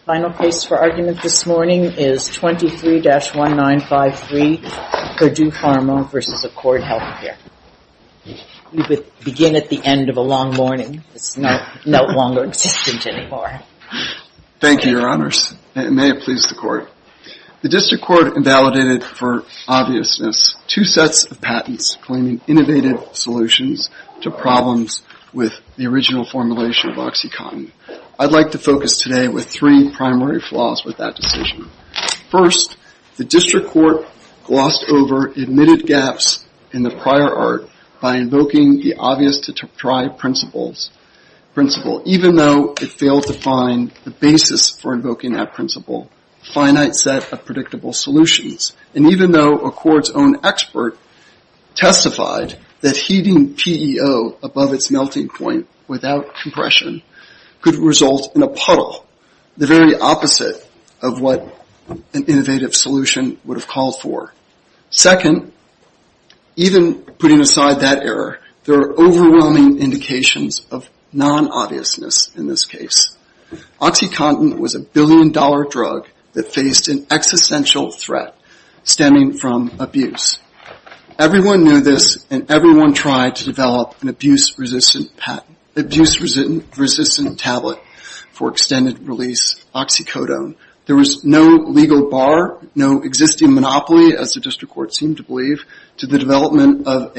The final case for argument this morning is 23-1953, Purdue Pharma v. Accord Healthcare. We begin at the end of a long morning. It's no longer existent anymore. Thank you, Your Honors, and may it please the Court. The District Court invalidated, for obviousness, two sets of patents claiming innovative solutions to problems with the original formulation of OxyContin. I'd like to focus today with three primary flaws with that decision. First, the District Court glossed over admitted gaps in the prior art by invoking the obvious-to-deprive principle, even though it failed to find the basis for invoking that principle, a finite set of predictable solutions. And even though Accord's own expert testified that heating PEO above its melting point without compression could result in a puddle, the very opposite of what an innovative solution would have called for. Second, even putting aside that error, there are overwhelming indications of non-obviousness in this case. OxyContin was a billion-dollar drug that faced an existential threat stemming from abuse. Everyone knew this, and everyone tried to develop an abuse-resistant tablet for extended-release OxyCodone. There was no legal bar, no existing monopoly, as the District Court seemed to believe, to the development of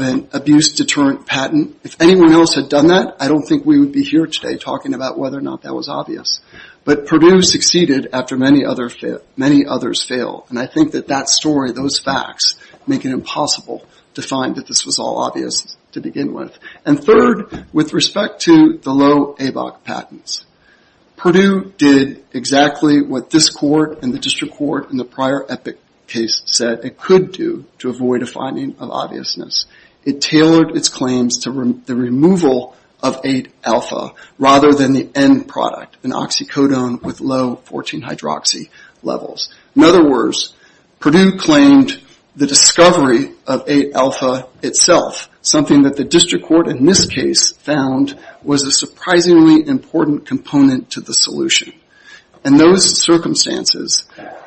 an abuse-deterrent patent. And if anyone else had done that, I don't think we would be here today talking about whether or not that was obvious. But Purdue succeeded after many others failed, and I think that that story, those facts, make it impossible to find that this was all obvious to begin with. And third, with respect to the low ABOC patents, Purdue did exactly what this Court and the District Court in the prior Epic case said it could do to avoid a finding of obviousness. It tailored its claims to the removal of 8-alpha rather than the end product, an OxyCodone with low 14-hydroxy levels. In other words, Purdue claimed the discovery of 8-alpha itself, something that the District Court in this case found was a surprisingly important component to the solution. In those circumstances,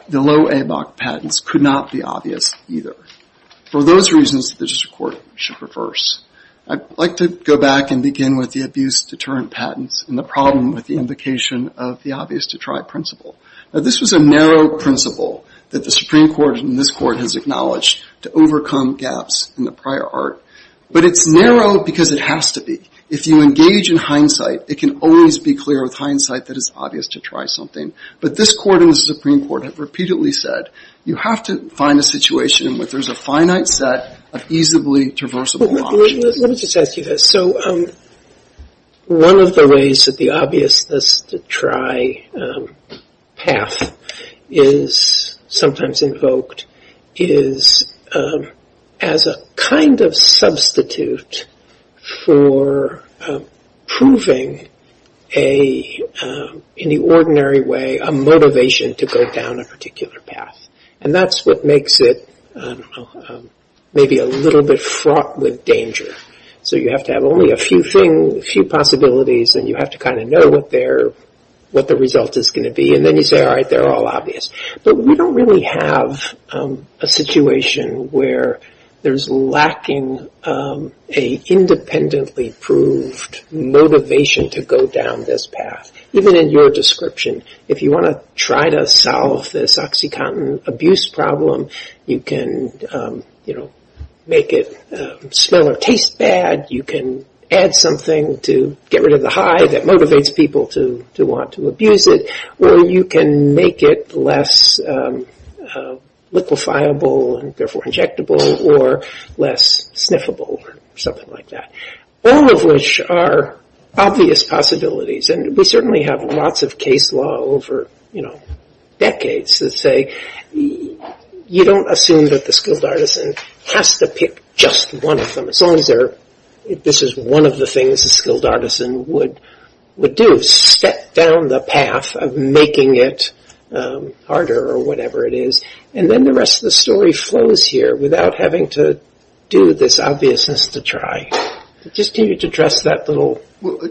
the low ABOC patents could not be obvious either. For those reasons, the District Court should reverse. I'd like to go back and begin with the abuse-deterrent patents and the problem with the invocation of the obvious-to-try principle. Now, this was a narrow principle that the Supreme Court and this Court has acknowledged to overcome gaps in the prior art. But it's narrow because it has to be. If you engage in hindsight, it can always be clear with hindsight that it's obvious to try something. But this Court and the Supreme Court have repeatedly said, you have to find a situation in which there's a finite set of easably traversable options. Let me just ask you this. So one of the ways that the obvious-to-try path is sometimes invoked is as a kind of substitute for proving in the ordinary way a motivation to go down a particular path. And that's what makes it maybe a little bit fraught with danger. So you have to have only a few possibilities and you have to kind of know what the result is going to be. And then you say, all right, they're all obvious. But we don't really have a situation where there's lacking an independently proved motivation to go down this path. Even in your description, if you want to try to solve this OxyContin abuse problem, you can make it smell or taste bad. You can add something to get rid of the high that motivates people to want to abuse it. Or you can make it less liquefiable and therefore injectable or less sniffable or something like that. All of which are obvious possibilities. And we certainly have lots of case law over, you know, decades that say, you don't assume that the skilled artisan has to pick just one of them. As long as this is one of the things a skilled artisan would do, step down the path of making it harder or whatever it is. And then the rest of the story flows here without having to do this obviousness to try. Just continue to address that little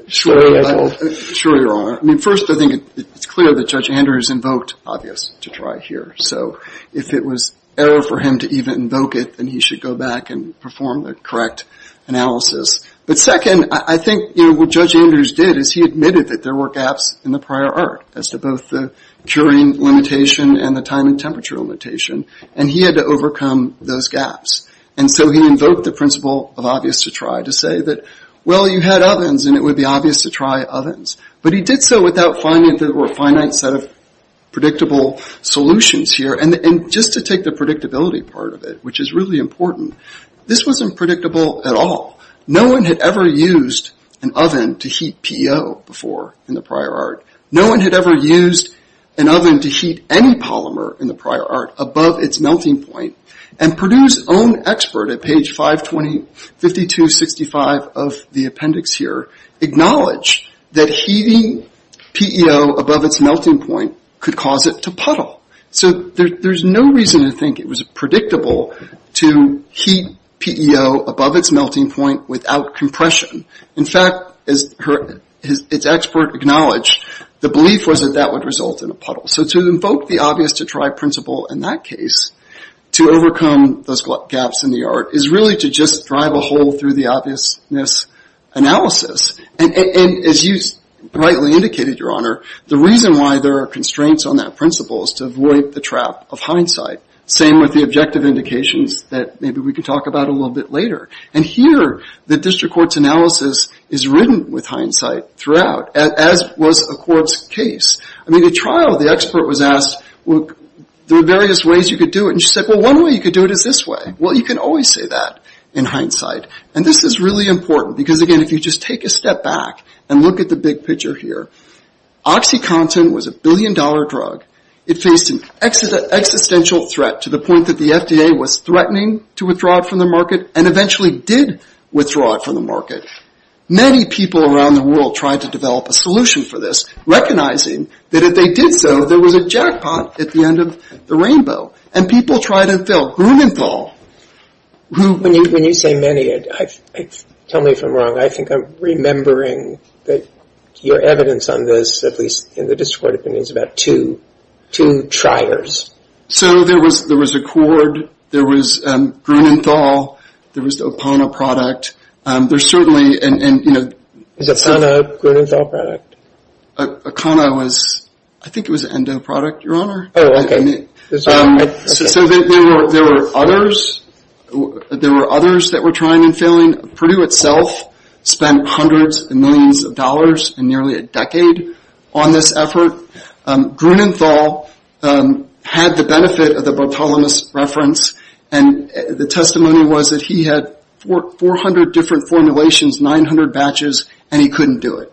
story I told. Sure, Your Honor. I mean, first, I think it's clear that Judge Andrews invoked obvious to try here. So if it was error for him to even invoke it, then he should go back and perform the correct analysis. But second, I think what Judge Andrews did is he admitted that there were gaps in the prior art as to both the curing limitation and the time and temperature limitation. And he had to overcome those gaps. And so he invoked the principle of obvious to try to say that, well, you had ovens, and it would be obvious to try ovens. But he did so without finding that there were a finite set of predictable solutions here. And just to take the predictability part of it, which is really important, this wasn't predictable at all. No one had ever used an oven to heat PO before in the prior art. No one had ever used an oven to heat any polymer in the prior art above its melting point. And Purdue's own expert at page 5265 of the appendix here acknowledged that heating PO above its melting point could cause it to puddle. So there's no reason to think it was predictable to heat PO above its melting point without compression. In fact, as its expert acknowledged, the belief was that that would result in a puddle. So to invoke the obvious to try principle in that case to overcome those gaps in the art is really to just drive a hole through the obviousness analysis. And as you rightly indicated, Your Honor, the reason why there are constraints on that principle is to avoid the trap of hindsight. Same with the objective indications that maybe we can talk about a little bit later. And here, the district court's analysis is written with hindsight throughout, as was a court's case. I mean, the trial, the expert was asked, well, there are various ways you could do it. And she said, well, one way you could do it is this way. Well, you can always say that in hindsight. And this is really important because, again, if you just take a step back and look at the big picture here, OxyContin was a billion-dollar drug. It faced an existential threat to the point that the FDA was threatening to withdraw it from the market and eventually did withdraw it from the market. Many people around the world tried to develop a solution for this, recognizing that if they did so, there was a jackpot at the end of the rainbow. And people tried and failed. Grumenthal, who – When you say many, tell me if I'm wrong. I think I'm remembering that your evidence on this, at least in the district court opinion, is about two triers. So there was Accord. There was Grumenthal. There was the Okana product. There's certainly – Is Okana Grumenthal product? Okana was – I think it was Endo product, Your Honor. Oh, okay. So there were others. There were others that were trying and failing. Purdue itself spent hundreds of millions of dollars in nearly a decade on this effort. Grumenthal had the benefit of the Bartholomews reference, and the testimony was that he had 400 different formulations, 900 batches, and he couldn't do it.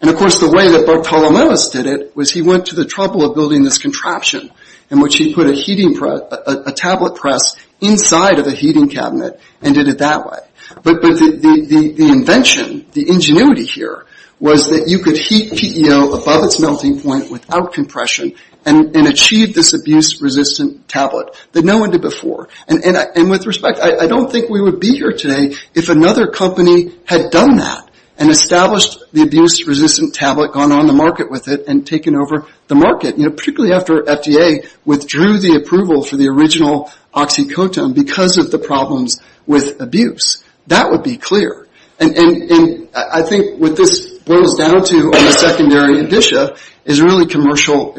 And, of course, the way that Bartholomews did it was he went to the trouble of building this contraption in which he put a heating – a tablet press inside of a heating cabinet and did it that way. But the invention, the ingenuity here was that you could heat PEO above its melting point without compression and achieve this abuse-resistant tablet that no one did before. And with respect, I don't think we would be here today if another company had done that and established the abuse-resistant tablet, gone on the market with it, and taken over the market, particularly after FDA withdrew the approval for the original oxycodone because of the problems with abuse. That would be clear. And I think what this boils down to on the secondary edition is really commercial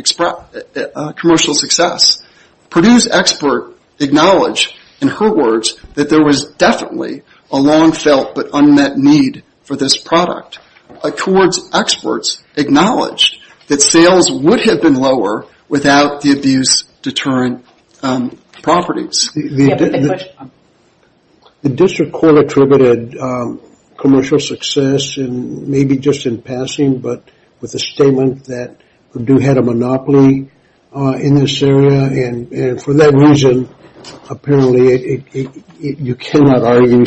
success. Purdue's expert acknowledged, in her words, that there was definitely a long-felt but unmet need for this product. Accord's experts acknowledged that sales would have been lower without the abuse-deterrent properties. The district court attributed commercial success, and maybe just in passing, but with a statement that Purdue had a monopoly in this area. And for that reason, apparently, you cannot argue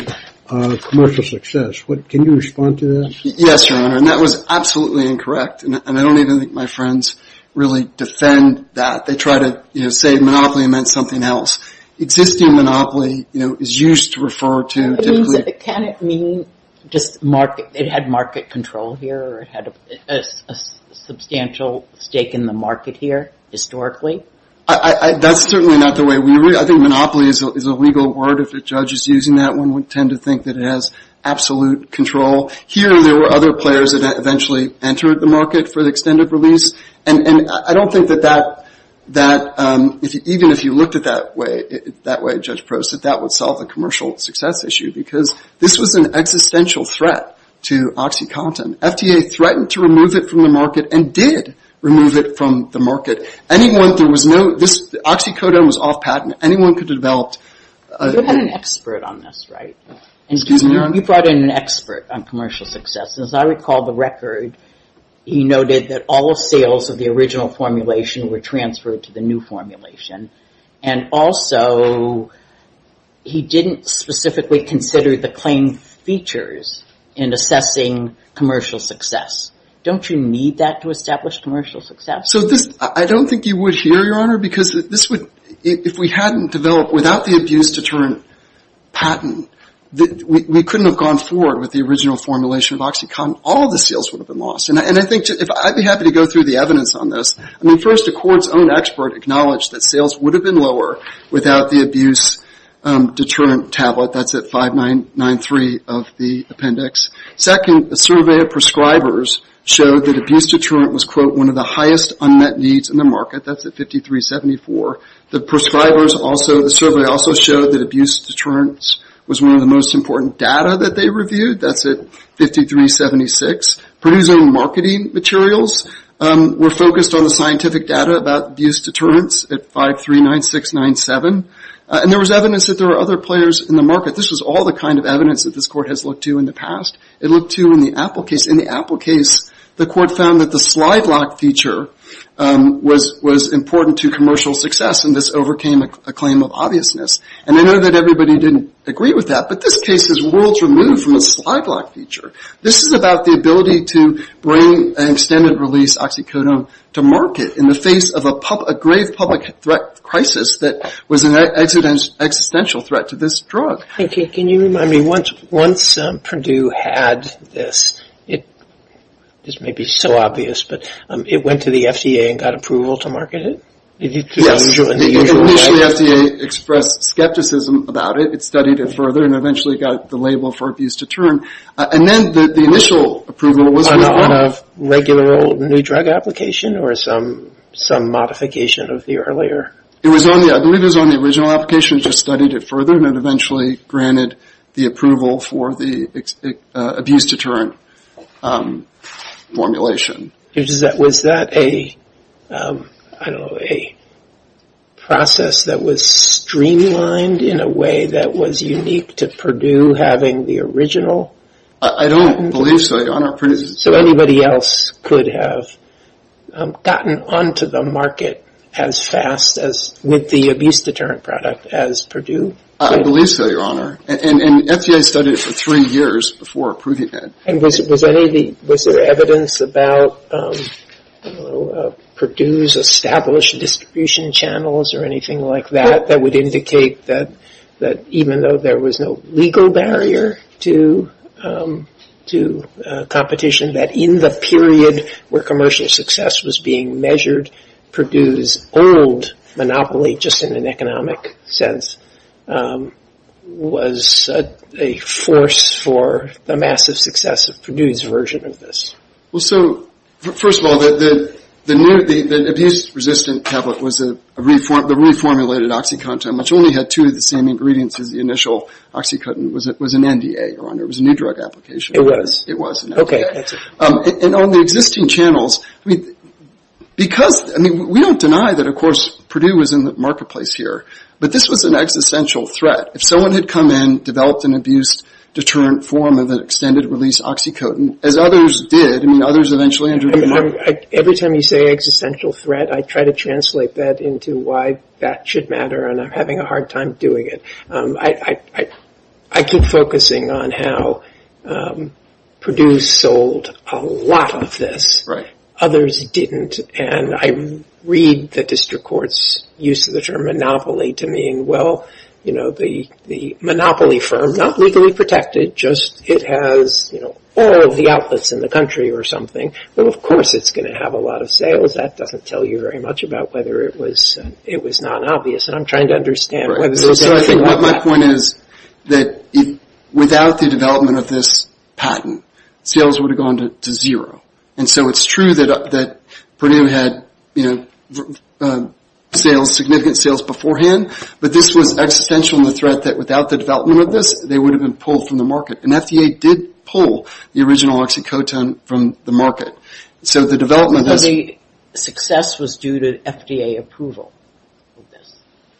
commercial success. Can you respond to that? Yes, Your Honor. And that was absolutely incorrect, and I don't even think my friends really defend that. They try to say monopoly meant something else. Existing monopoly is used to refer to typically – Can it mean just it had market control here or it had a substantial stake in the market here historically? That's certainly not the way we – I think monopoly is a legal word. If a judge is using that one, we tend to think that it has absolute control. Here, there were other players that eventually entered the market for the extended release. And I don't think that that – even if you looked at it that way, Judge Prost, that that would solve the commercial success issue because this was an existential threat to OxyContin. FDA threatened to remove it from the market and did remove it from the market. Anyone – there was no – OxyContin was off patent. Anyone could have developed – You had an expert on this, right? Excuse me, Your Honor. You brought in an expert on commercial success, and as I recall the record, he noted that all sales of the original formulation were transferred to the new formulation. And also, he didn't specifically consider the claim features in assessing commercial success. Don't you need that to establish commercial success? I don't think you would here, Your Honor, because this would – if we hadn't developed – without the abuse deterrent patent, we couldn't have gone forward with the original formulation of OxyContin. All the sales would have been lost. And I think – I'd be happy to go through the evidence on this. I mean, first, a court's own expert acknowledged that sales would have been lower without the abuse deterrent tablet. That's at 5993 of the appendix. Second, a survey of prescribers showed that abuse deterrent was, quote, one of the highest unmet needs in the market. That's at 5374. The prescribers also – the survey also showed that abuse deterrent was one of the most important data that they reviewed. That's at 5376. Producing marketing materials were focused on the scientific data about abuse deterrents at 539697. And there was evidence that there were other players in the market. This was all the kind of evidence that this court has looked to in the past. It looked to in the Apple case. The court found that the slide lock feature was important to commercial success, and this overcame a claim of obviousness. And I know that everybody didn't agree with that, but this case is worlds removed from a slide lock feature. This is about the ability to bring an extended release oxycodone to market in the face of a grave public threat crisis that was an existential threat to this drug. Can you remind me, once Purdue had this – this may be so obvious, but it went to the FDA and got approval to market it? Initially, the FDA expressed skepticism about it. It studied it further and eventually got the label for abuse deterrent. And then the initial approval was – On a regular old new drug application or some modification of the earlier? It was on the – I believe it was on the original application. Just studied it further and eventually granted the approval for the abuse deterrent formulation. Was that a – I don't know, a process that was streamlined in a way that was unique to Purdue having the original? I don't believe so, Your Honor. So anybody else could have gotten onto the market as fast as – the abuse deterrent product as Purdue? I believe so, Your Honor. And the FDA studied it for three years before approving it. And was there evidence about Purdue's established distribution channels or anything like that that would indicate that even though there was no legal barrier to competition, that in the period where commercial success was being measured, Purdue's old monopoly, just in an economic sense, was a force for the massive success of Purdue's version of this? Well, so first of all, the abuse-resistant tablet was the reformulated OxyContin, which only had two of the same ingredients as the initial OxyContin. It was an NDA, Your Honor. It was a new drug application. It was. It was. Okay, that's it. And on the existing channels, I mean, because – I mean, we don't deny that, of course, Purdue was in the marketplace here, but this was an existential threat. If someone had come in, developed an abuse deterrent form of an extended-release OxyContin, as others did, I mean, others eventually entered the market. Every time you say existential threat, I try to translate that into why that should matter and I'm having a hard time doing it. I keep focusing on how Purdue sold a lot of this. Others didn't, and I read the district court's use of the term monopoly to mean, well, you know, the monopoly firm, not legally protected, just it has all of the outlets in the country or something. Well, of course it's going to have a lot of sales. That doesn't tell you very much about whether it was non-obvious, and I'm trying to understand whether this is anything like that. So I think what my point is that without the development of this patent, sales would have gone to zero. And so it's true that Purdue had, you know, sales, significant sales beforehand, but this was existential in the threat that without the development of this, they would have been pulled from the market, and FDA did pull the original OxyContin from the market. The success was due to FDA approval.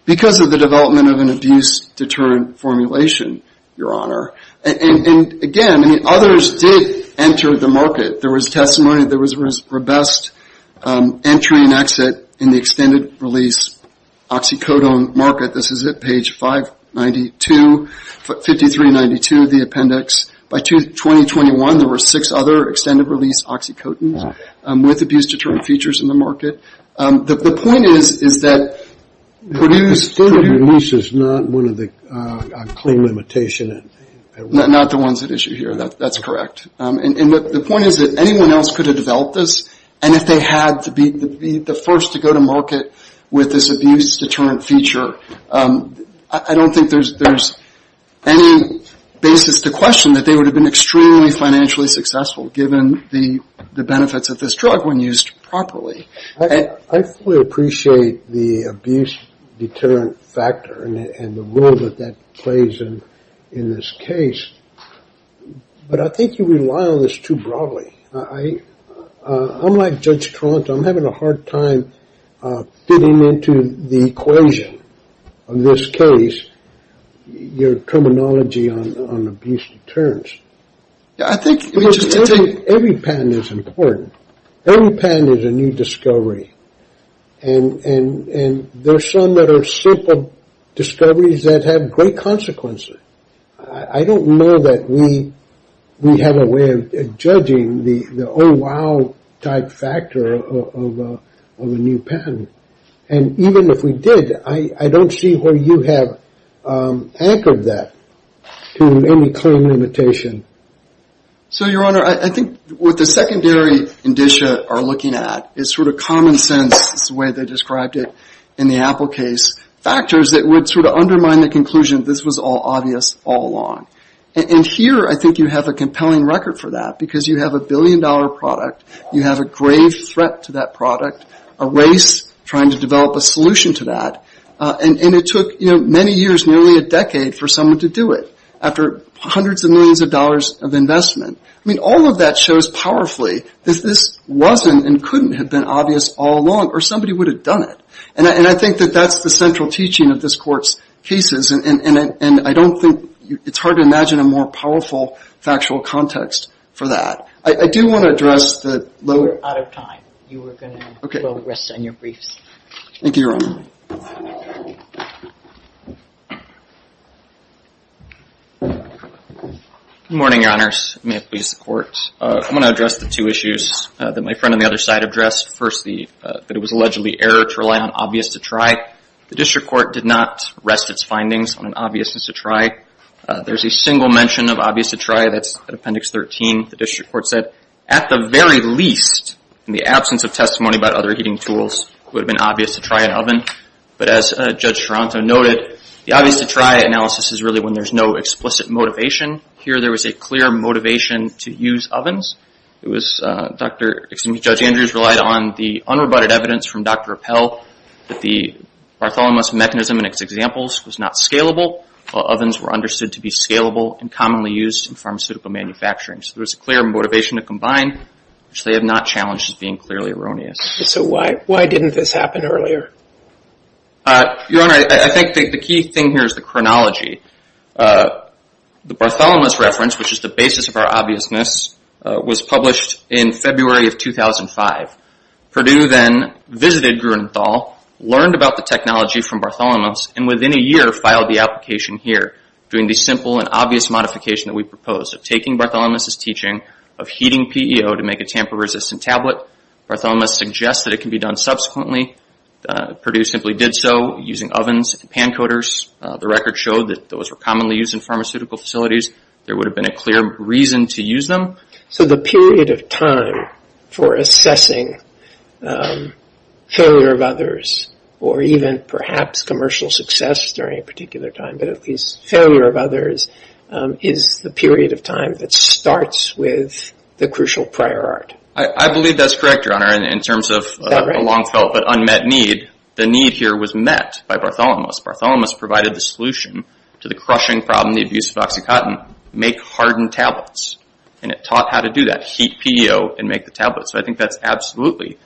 Because of the development of an abuse deterrent formulation, Your Honor. And again, others did enter the market. There was testimony, there was robust entry and exit in the extended release OxyContin market. This is at page 592, 5392 of the appendix. By 2021, there were six other extended release OxyContin with abuse deterrent features in the market. The point is that Purdue's standard release is not one of the claim limitation. Not the ones at issue here. That's correct. And the point is that anyone else could have developed this, and if they had to be the first to go to market with this abuse deterrent feature, I don't think there's any basis to question that they would have been extremely financially successful, given the benefits of this drug when used properly. I fully appreciate the abuse deterrent factor and the role that that plays in this case, but I think you rely on this too broadly. I'm like Judge Tront, I'm having a hard time fitting into the equation of this case, your terminology on abuse deterrents. I think every patent is important. Every patent is a new discovery, and there are some that are simple discoveries that have great consequences. I don't know that we have a way of judging the oh, wow type factor of a new patent. And even if we did, I don't see where you have anchored that to any claim limitation. So, Your Honor, I think what the secondary indicia are looking at is sort of common sense, this is the way they described it in the Apple case, factors that would sort of undermine the conclusion this was all obvious all along. And here I think you have a compelling record for that, because you have a billion dollar product, you have a grave threat to that product, a race trying to develop a solution to that, and it took many years, nearly a decade for someone to do it, after hundreds of millions of dollars of investment. I mean, all of that shows powerfully that this wasn't and couldn't have been obvious all along, or somebody would have done it. And I think that that's the central teaching of this Court's cases, and I don't think it's hard to imagine a more powerful factual context for that. I do want to address the lower... We're out of time. Okay. You were going to progress on your briefs. Thank you, Your Honor. Good morning, Your Honors. May it please the Court. I want to address the two issues that my friend on the other side addressed. First, that it was allegedly error to rely on obvious-to-try. The District Court did not rest its findings on an obvious-to-try. There's a single mention of obvious-to-try, that's at Appendix 13. The District Court said, at the very least, in the absence of testimony about other heating tools, it would have been obvious-to-try an oven. But as Judge Toronto noted, the obvious-to-try analysis is really when there's no explicit motivation. Here there was a clear motivation to use ovens. Judge Andrews relied on the unrebutted evidence from Dr. Appell that the Bartholomews mechanism in its examples was not scalable, while ovens were understood to be scalable and commonly used in pharmaceutical manufacturing. So there was a clear motivation to combine, which they have not challenged as being clearly erroneous. So why didn't this happen earlier? Your Honor, I think the key thing here is the chronology. The Bartholomews reference, which is the basis of our obviousness, was published in February of 2005. Perdue then visited Grunenthal, learned about the technology from Bartholomews, and within a year filed the application here, doing the simple and obvious modification that we proposed of taking Bartholomews' teaching of heating PEO to make a tamper-resistant tablet. Bartholomews suggested it can be done subsequently. Perdue simply did so using ovens and pancoaters. The record showed that those were commonly used in pharmaceutical facilities. There would have been a clear reason to use them. So the period of time for assessing failure of others, or even perhaps commercial success during a particular time, but at least failure of others, is the period of time that starts with the crucial prior art. I believe that's correct, Your Honor, in terms of a long-felt but unmet need. The need here was met by Bartholomews. Bartholomews provided the solution to the crushing problem, the abuse of OxyContin, make hardened tablets, and it taught how to do that, heat PEO and make the tablets. So I think that's absolutely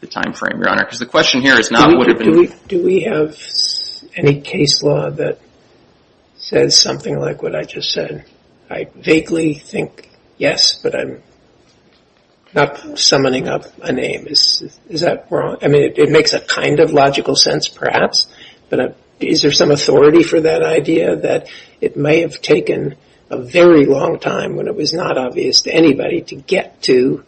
the time frame, Your Honor, because the question here is not what would have been... Do we have any case law that says something like what I just said? I vaguely think yes, but I'm not summoning up a name. Is that wrong? I mean, it makes a kind of logical sense, perhaps, but is there some authority for that idea that it may have taken a very long time when it was not obvious to anybody to get to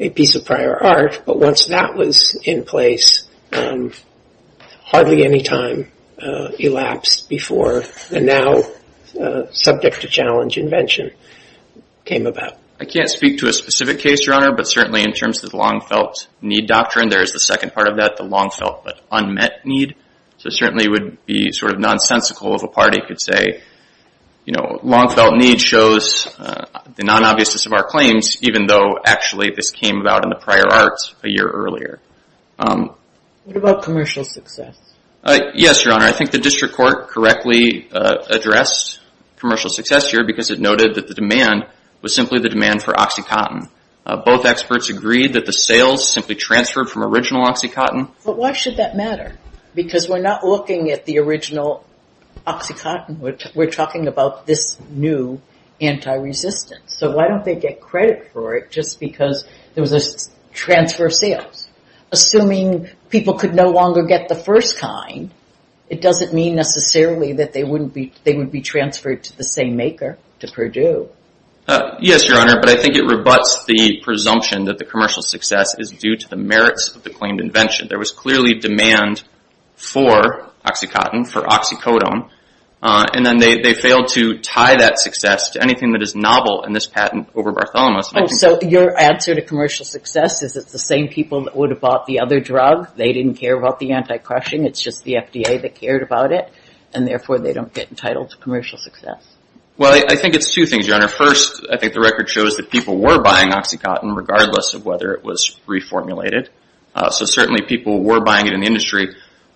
a piece of prior art, but once that was in place, hardly any time elapsed before the now subject-to-challenge invention came about. I can't speak to a specific case, Your Honor, but certainly in terms of the long-felt need doctrine, there is the second part of that, the long-felt but unmet need. So it certainly would be sort of nonsensical if a party could say, you know, long-felt need shows the non-obviousness of our claims, even though actually this came about in the prior arts a year earlier. What about commercial success? Yes, Your Honor. I think the district court correctly addressed commercial success here because it noted that the demand was simply the demand for OxyContin. Both experts agreed that the sales simply transferred from original OxyContin. But why should that matter? Because we're not looking at the original OxyContin. We're talking about this new anti-resistance. So why don't they get credit for it just because there was a transfer of sales? Assuming people could no longer get the first kind, it doesn't mean necessarily that they would be transferred to the same maker, to Purdue. Yes, Your Honor, but I think it rebuts the presumption that the commercial success is due to the merits of the claimed invention. There was clearly demand for OxyContin, for oxycodone, and then they failed to tie that success to anything that is novel in this patent over Bartholomew's. So your answer to commercial success is it's the same people that would have bought the other drug. They didn't care about the anti-crushing. It's just the FDA that cared about it, and therefore they don't get entitled to commercial success. Well, I think it's two things, Your Honor. First, I think the record shows that people were buying OxyContin, regardless of whether it was reformulated. So certainly people were buying it in the industry.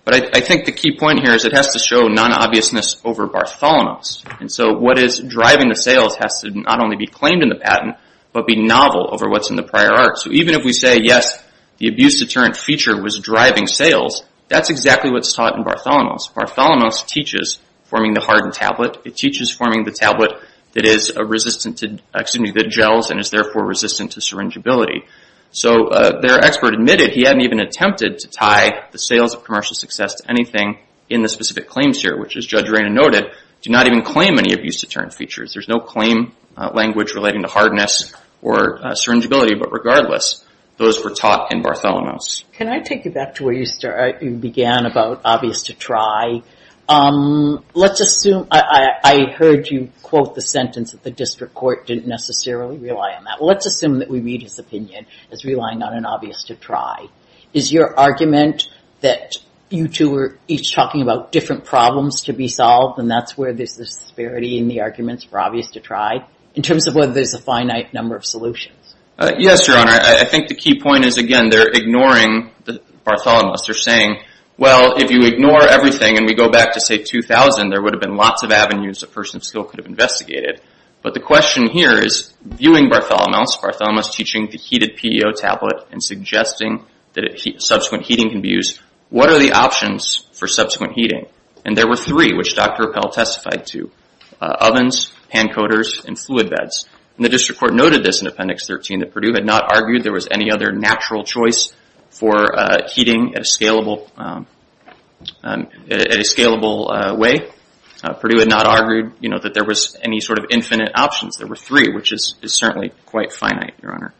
But I think the key point here is it has to show non-obviousness over Bartholomew's. And so what is driving the sales has to not only be claimed in the patent, but be novel over what's in the prior art. So even if we say, yes, the abuse deterrent feature was driving sales, that's exactly what's taught in Bartholomew's. Bartholomew's teaches forming the hardened tablet. It teaches forming the tablet that gels and is therefore resistant to syringability. So their expert admitted he hadn't even attempted to tie the sales of commercial success to anything in the specific claims here, which, as Judge Reina noted, do not even claim any abuse deterrent features. There's no claim language relating to hardness or syringability. But regardless, those were taught in Bartholomew's. Can I take you back to where you began about obvious to try? Let's assume – I heard you quote the sentence that the district court didn't necessarily rely on that. Let's assume that we read his opinion as relying on an obvious to try. Is your argument that you two are each talking about different problems to be solved and that's where there's this disparity in the arguments for obvious to try, in terms of whether there's a finite number of solutions? Yes, Your Honor. I think the key point is, again, they're ignoring Bartholomew's. They're saying, well, if you ignore everything and we go back to, say, 2000, there would have been lots of avenues a person still could have investigated. But the question here is, viewing Bartholomew's, Bartholomew's teaching the heated PEO tablet and suggesting that subsequent heating can be used, what are the options for subsequent heating? And there were three, which Dr. Appel testified to, ovens, pan coaters, and fluid beds. And the district court noted this in Appendix 13, that Purdue had not argued there was any other natural choice for heating at a scalable way. Purdue had not argued, you know, that there was any sort of infinite options. There were three, which is certainly quite finite, Your Honor.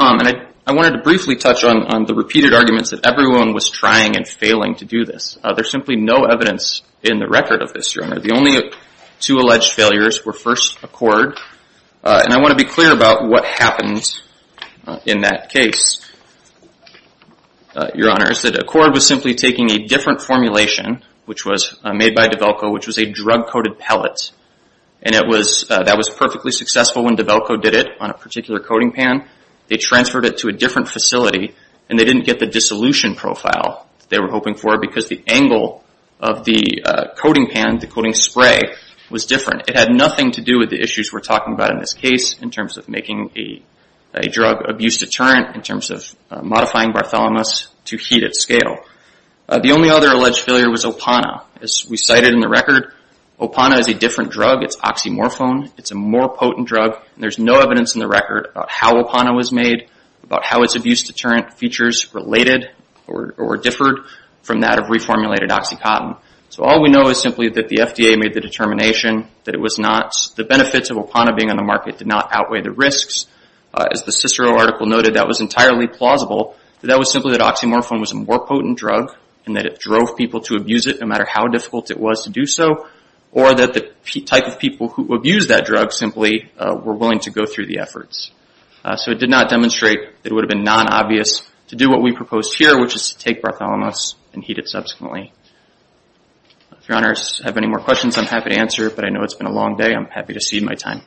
And I wanted to briefly touch on the repeated arguments that everyone was trying and failing to do this. There's simply no evidence in the record of this, Your Honor. The only two alleged failures were first accord. And I want to be clear about what happened in that case, Your Honor, is that accord was simply taking a different formulation, which was made by DeVelco, which was a drug-coated pellet. And that was perfectly successful when DeVelco did it on a particular coating pan. They transferred it to a different facility and they didn't get the dissolution profile they were hoping for because the angle of the coating pan, the coating spray, was different. It had nothing to do with the issues we're talking about in this case, in terms of making a drug abuse deterrent, in terms of modifying Bartholomews to heat at scale. The only other alleged failure was Opana. As we cited in the record, Opana is a different drug. It's oxymorphone. It's a more potent drug. And there's no evidence in the record about how Opana was made, about how its abuse deterrent features related or differed from that of reformulated OxyContin. So all we know is simply that the FDA made the determination that the benefits of Opana being on the market did not outweigh the risks. As the Cicero article noted, that was entirely plausible. That was simply that oxymorphone was a more potent drug and that it drove people to abuse it no matter how difficult it was to do so, or that the type of people who abused that drug simply were willing to go through the efforts. So it did not demonstrate that it would have been non-obvious to do what we proposed here, which is to take Bartholomews and heat it subsequently. If Your Honors have any more questions, I'm happy to answer. But I know it's been a long day. I'm happy to cede my time.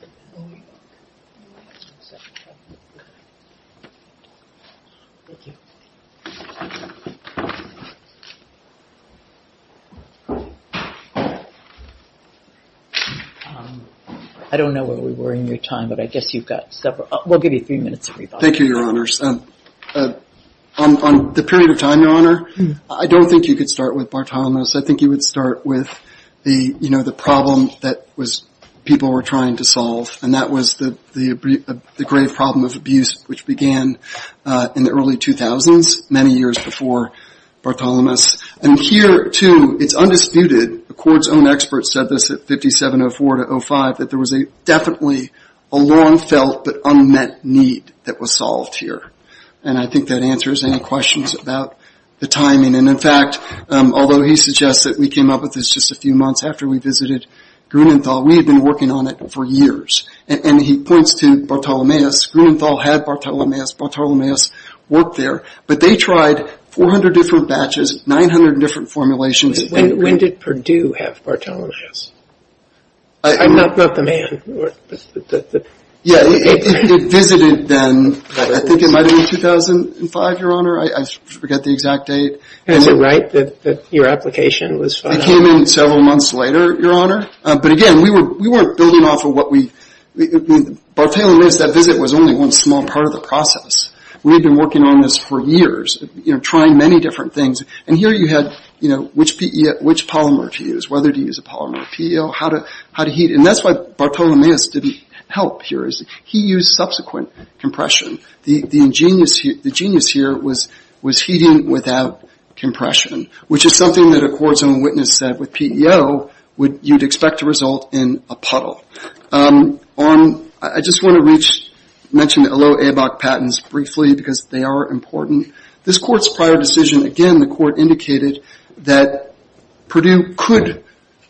I don't know where we were in your time, but I guess you've got several. We'll give you three minutes to revise. Thank you, Your Honors. On the period of time, Your Honor, I don't think you could start with Bartholomews. I think you would start with the problem that people were trying to solve, and that was the grave problem of abuse, which began in the early 2000s, many years before Bartholomews. And here, too, it's undisputed. Accord's own experts said this at 5704 to 05, that there was definitely a long-felt but unmet need that was solved here. And I think that answers any questions about the timing. And, in fact, although he suggests that we came up with this just a few months after we visited Grunenthal, we had been working on it for years. And he points to Bartholomews. Grunenthal had Bartholomews. Bartholomews worked there. But they tried 400 different batches, 900 different formulations. When did Purdue have Bartholomews? I'm not the man. Yeah, it visited then. I think it might have been 2005, Your Honor. I forget the exact date. Is it right that your application was filed? It came in several months later, Your Honor. But, again, we weren't building off of what we – Bartholomews, that visit was only one small part of the process. We had been working on this for years, trying many different things. And here you had, you know, which polymer to use, whether to use a polymer or PEO, how to heat it. And that's why Bartholomews didn't help here. He used subsequent compression. The genius here was heating without compression, which is something that a court's own witness said with PEO you'd expect to result in a puddle. I just want to mention the Allot-Abac patents briefly because they are important. This court's prior decision, again, the court indicated that Purdue could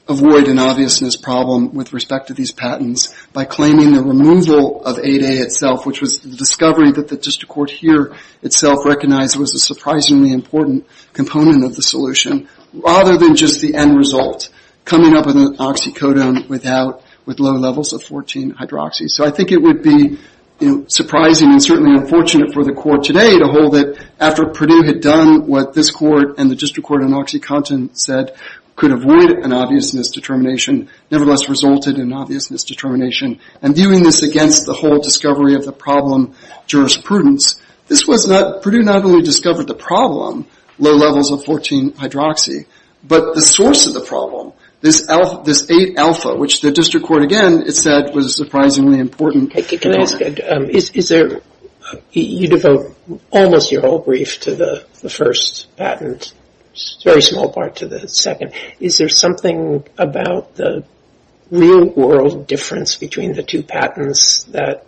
avoid an obviousness problem with respect to these patents by claiming the removal of 8A itself, which was the discovery that the district court here itself recognized was a surprisingly important component of the solution, rather than just the end result, coming up with an oxycodone with low levels of 14-hydroxy. So I think it would be surprising and certainly unfortunate for the court today to hold it after Purdue had done what this court and the district court in OxyContin said could avoid an obviousness determination, nevertheless resulted in an obviousness determination. And viewing this against the whole discovery of the problem jurisprudence, this was that Purdue not only discovered the problem, low levels of 14-hydroxy, but the source of the problem, this 8Alpha, which the district court, again, said was surprisingly important. Can I ask, you devote almost your whole brief to the first patent, a very small part to the second. Is there something about the real-world difference between the two patents that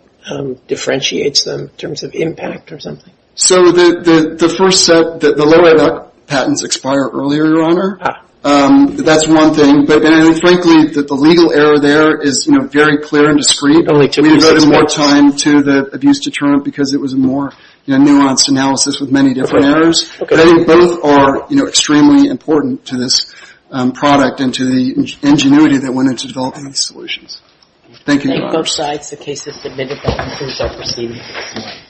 differentiates them in terms of impact or something? So the first set, the lower-level patents expire earlier, Your Honor. That's one thing. But frankly, the legal error there is very clear and discreet. We devoted more time to the abuse deterrent because it was a more nuanced analysis with many different errors. I think both are extremely important to this product and to the ingenuity that went into developing these solutions. Thank you, Your Honor. Thank both sides. The case is submitted. That concludes our proceedings.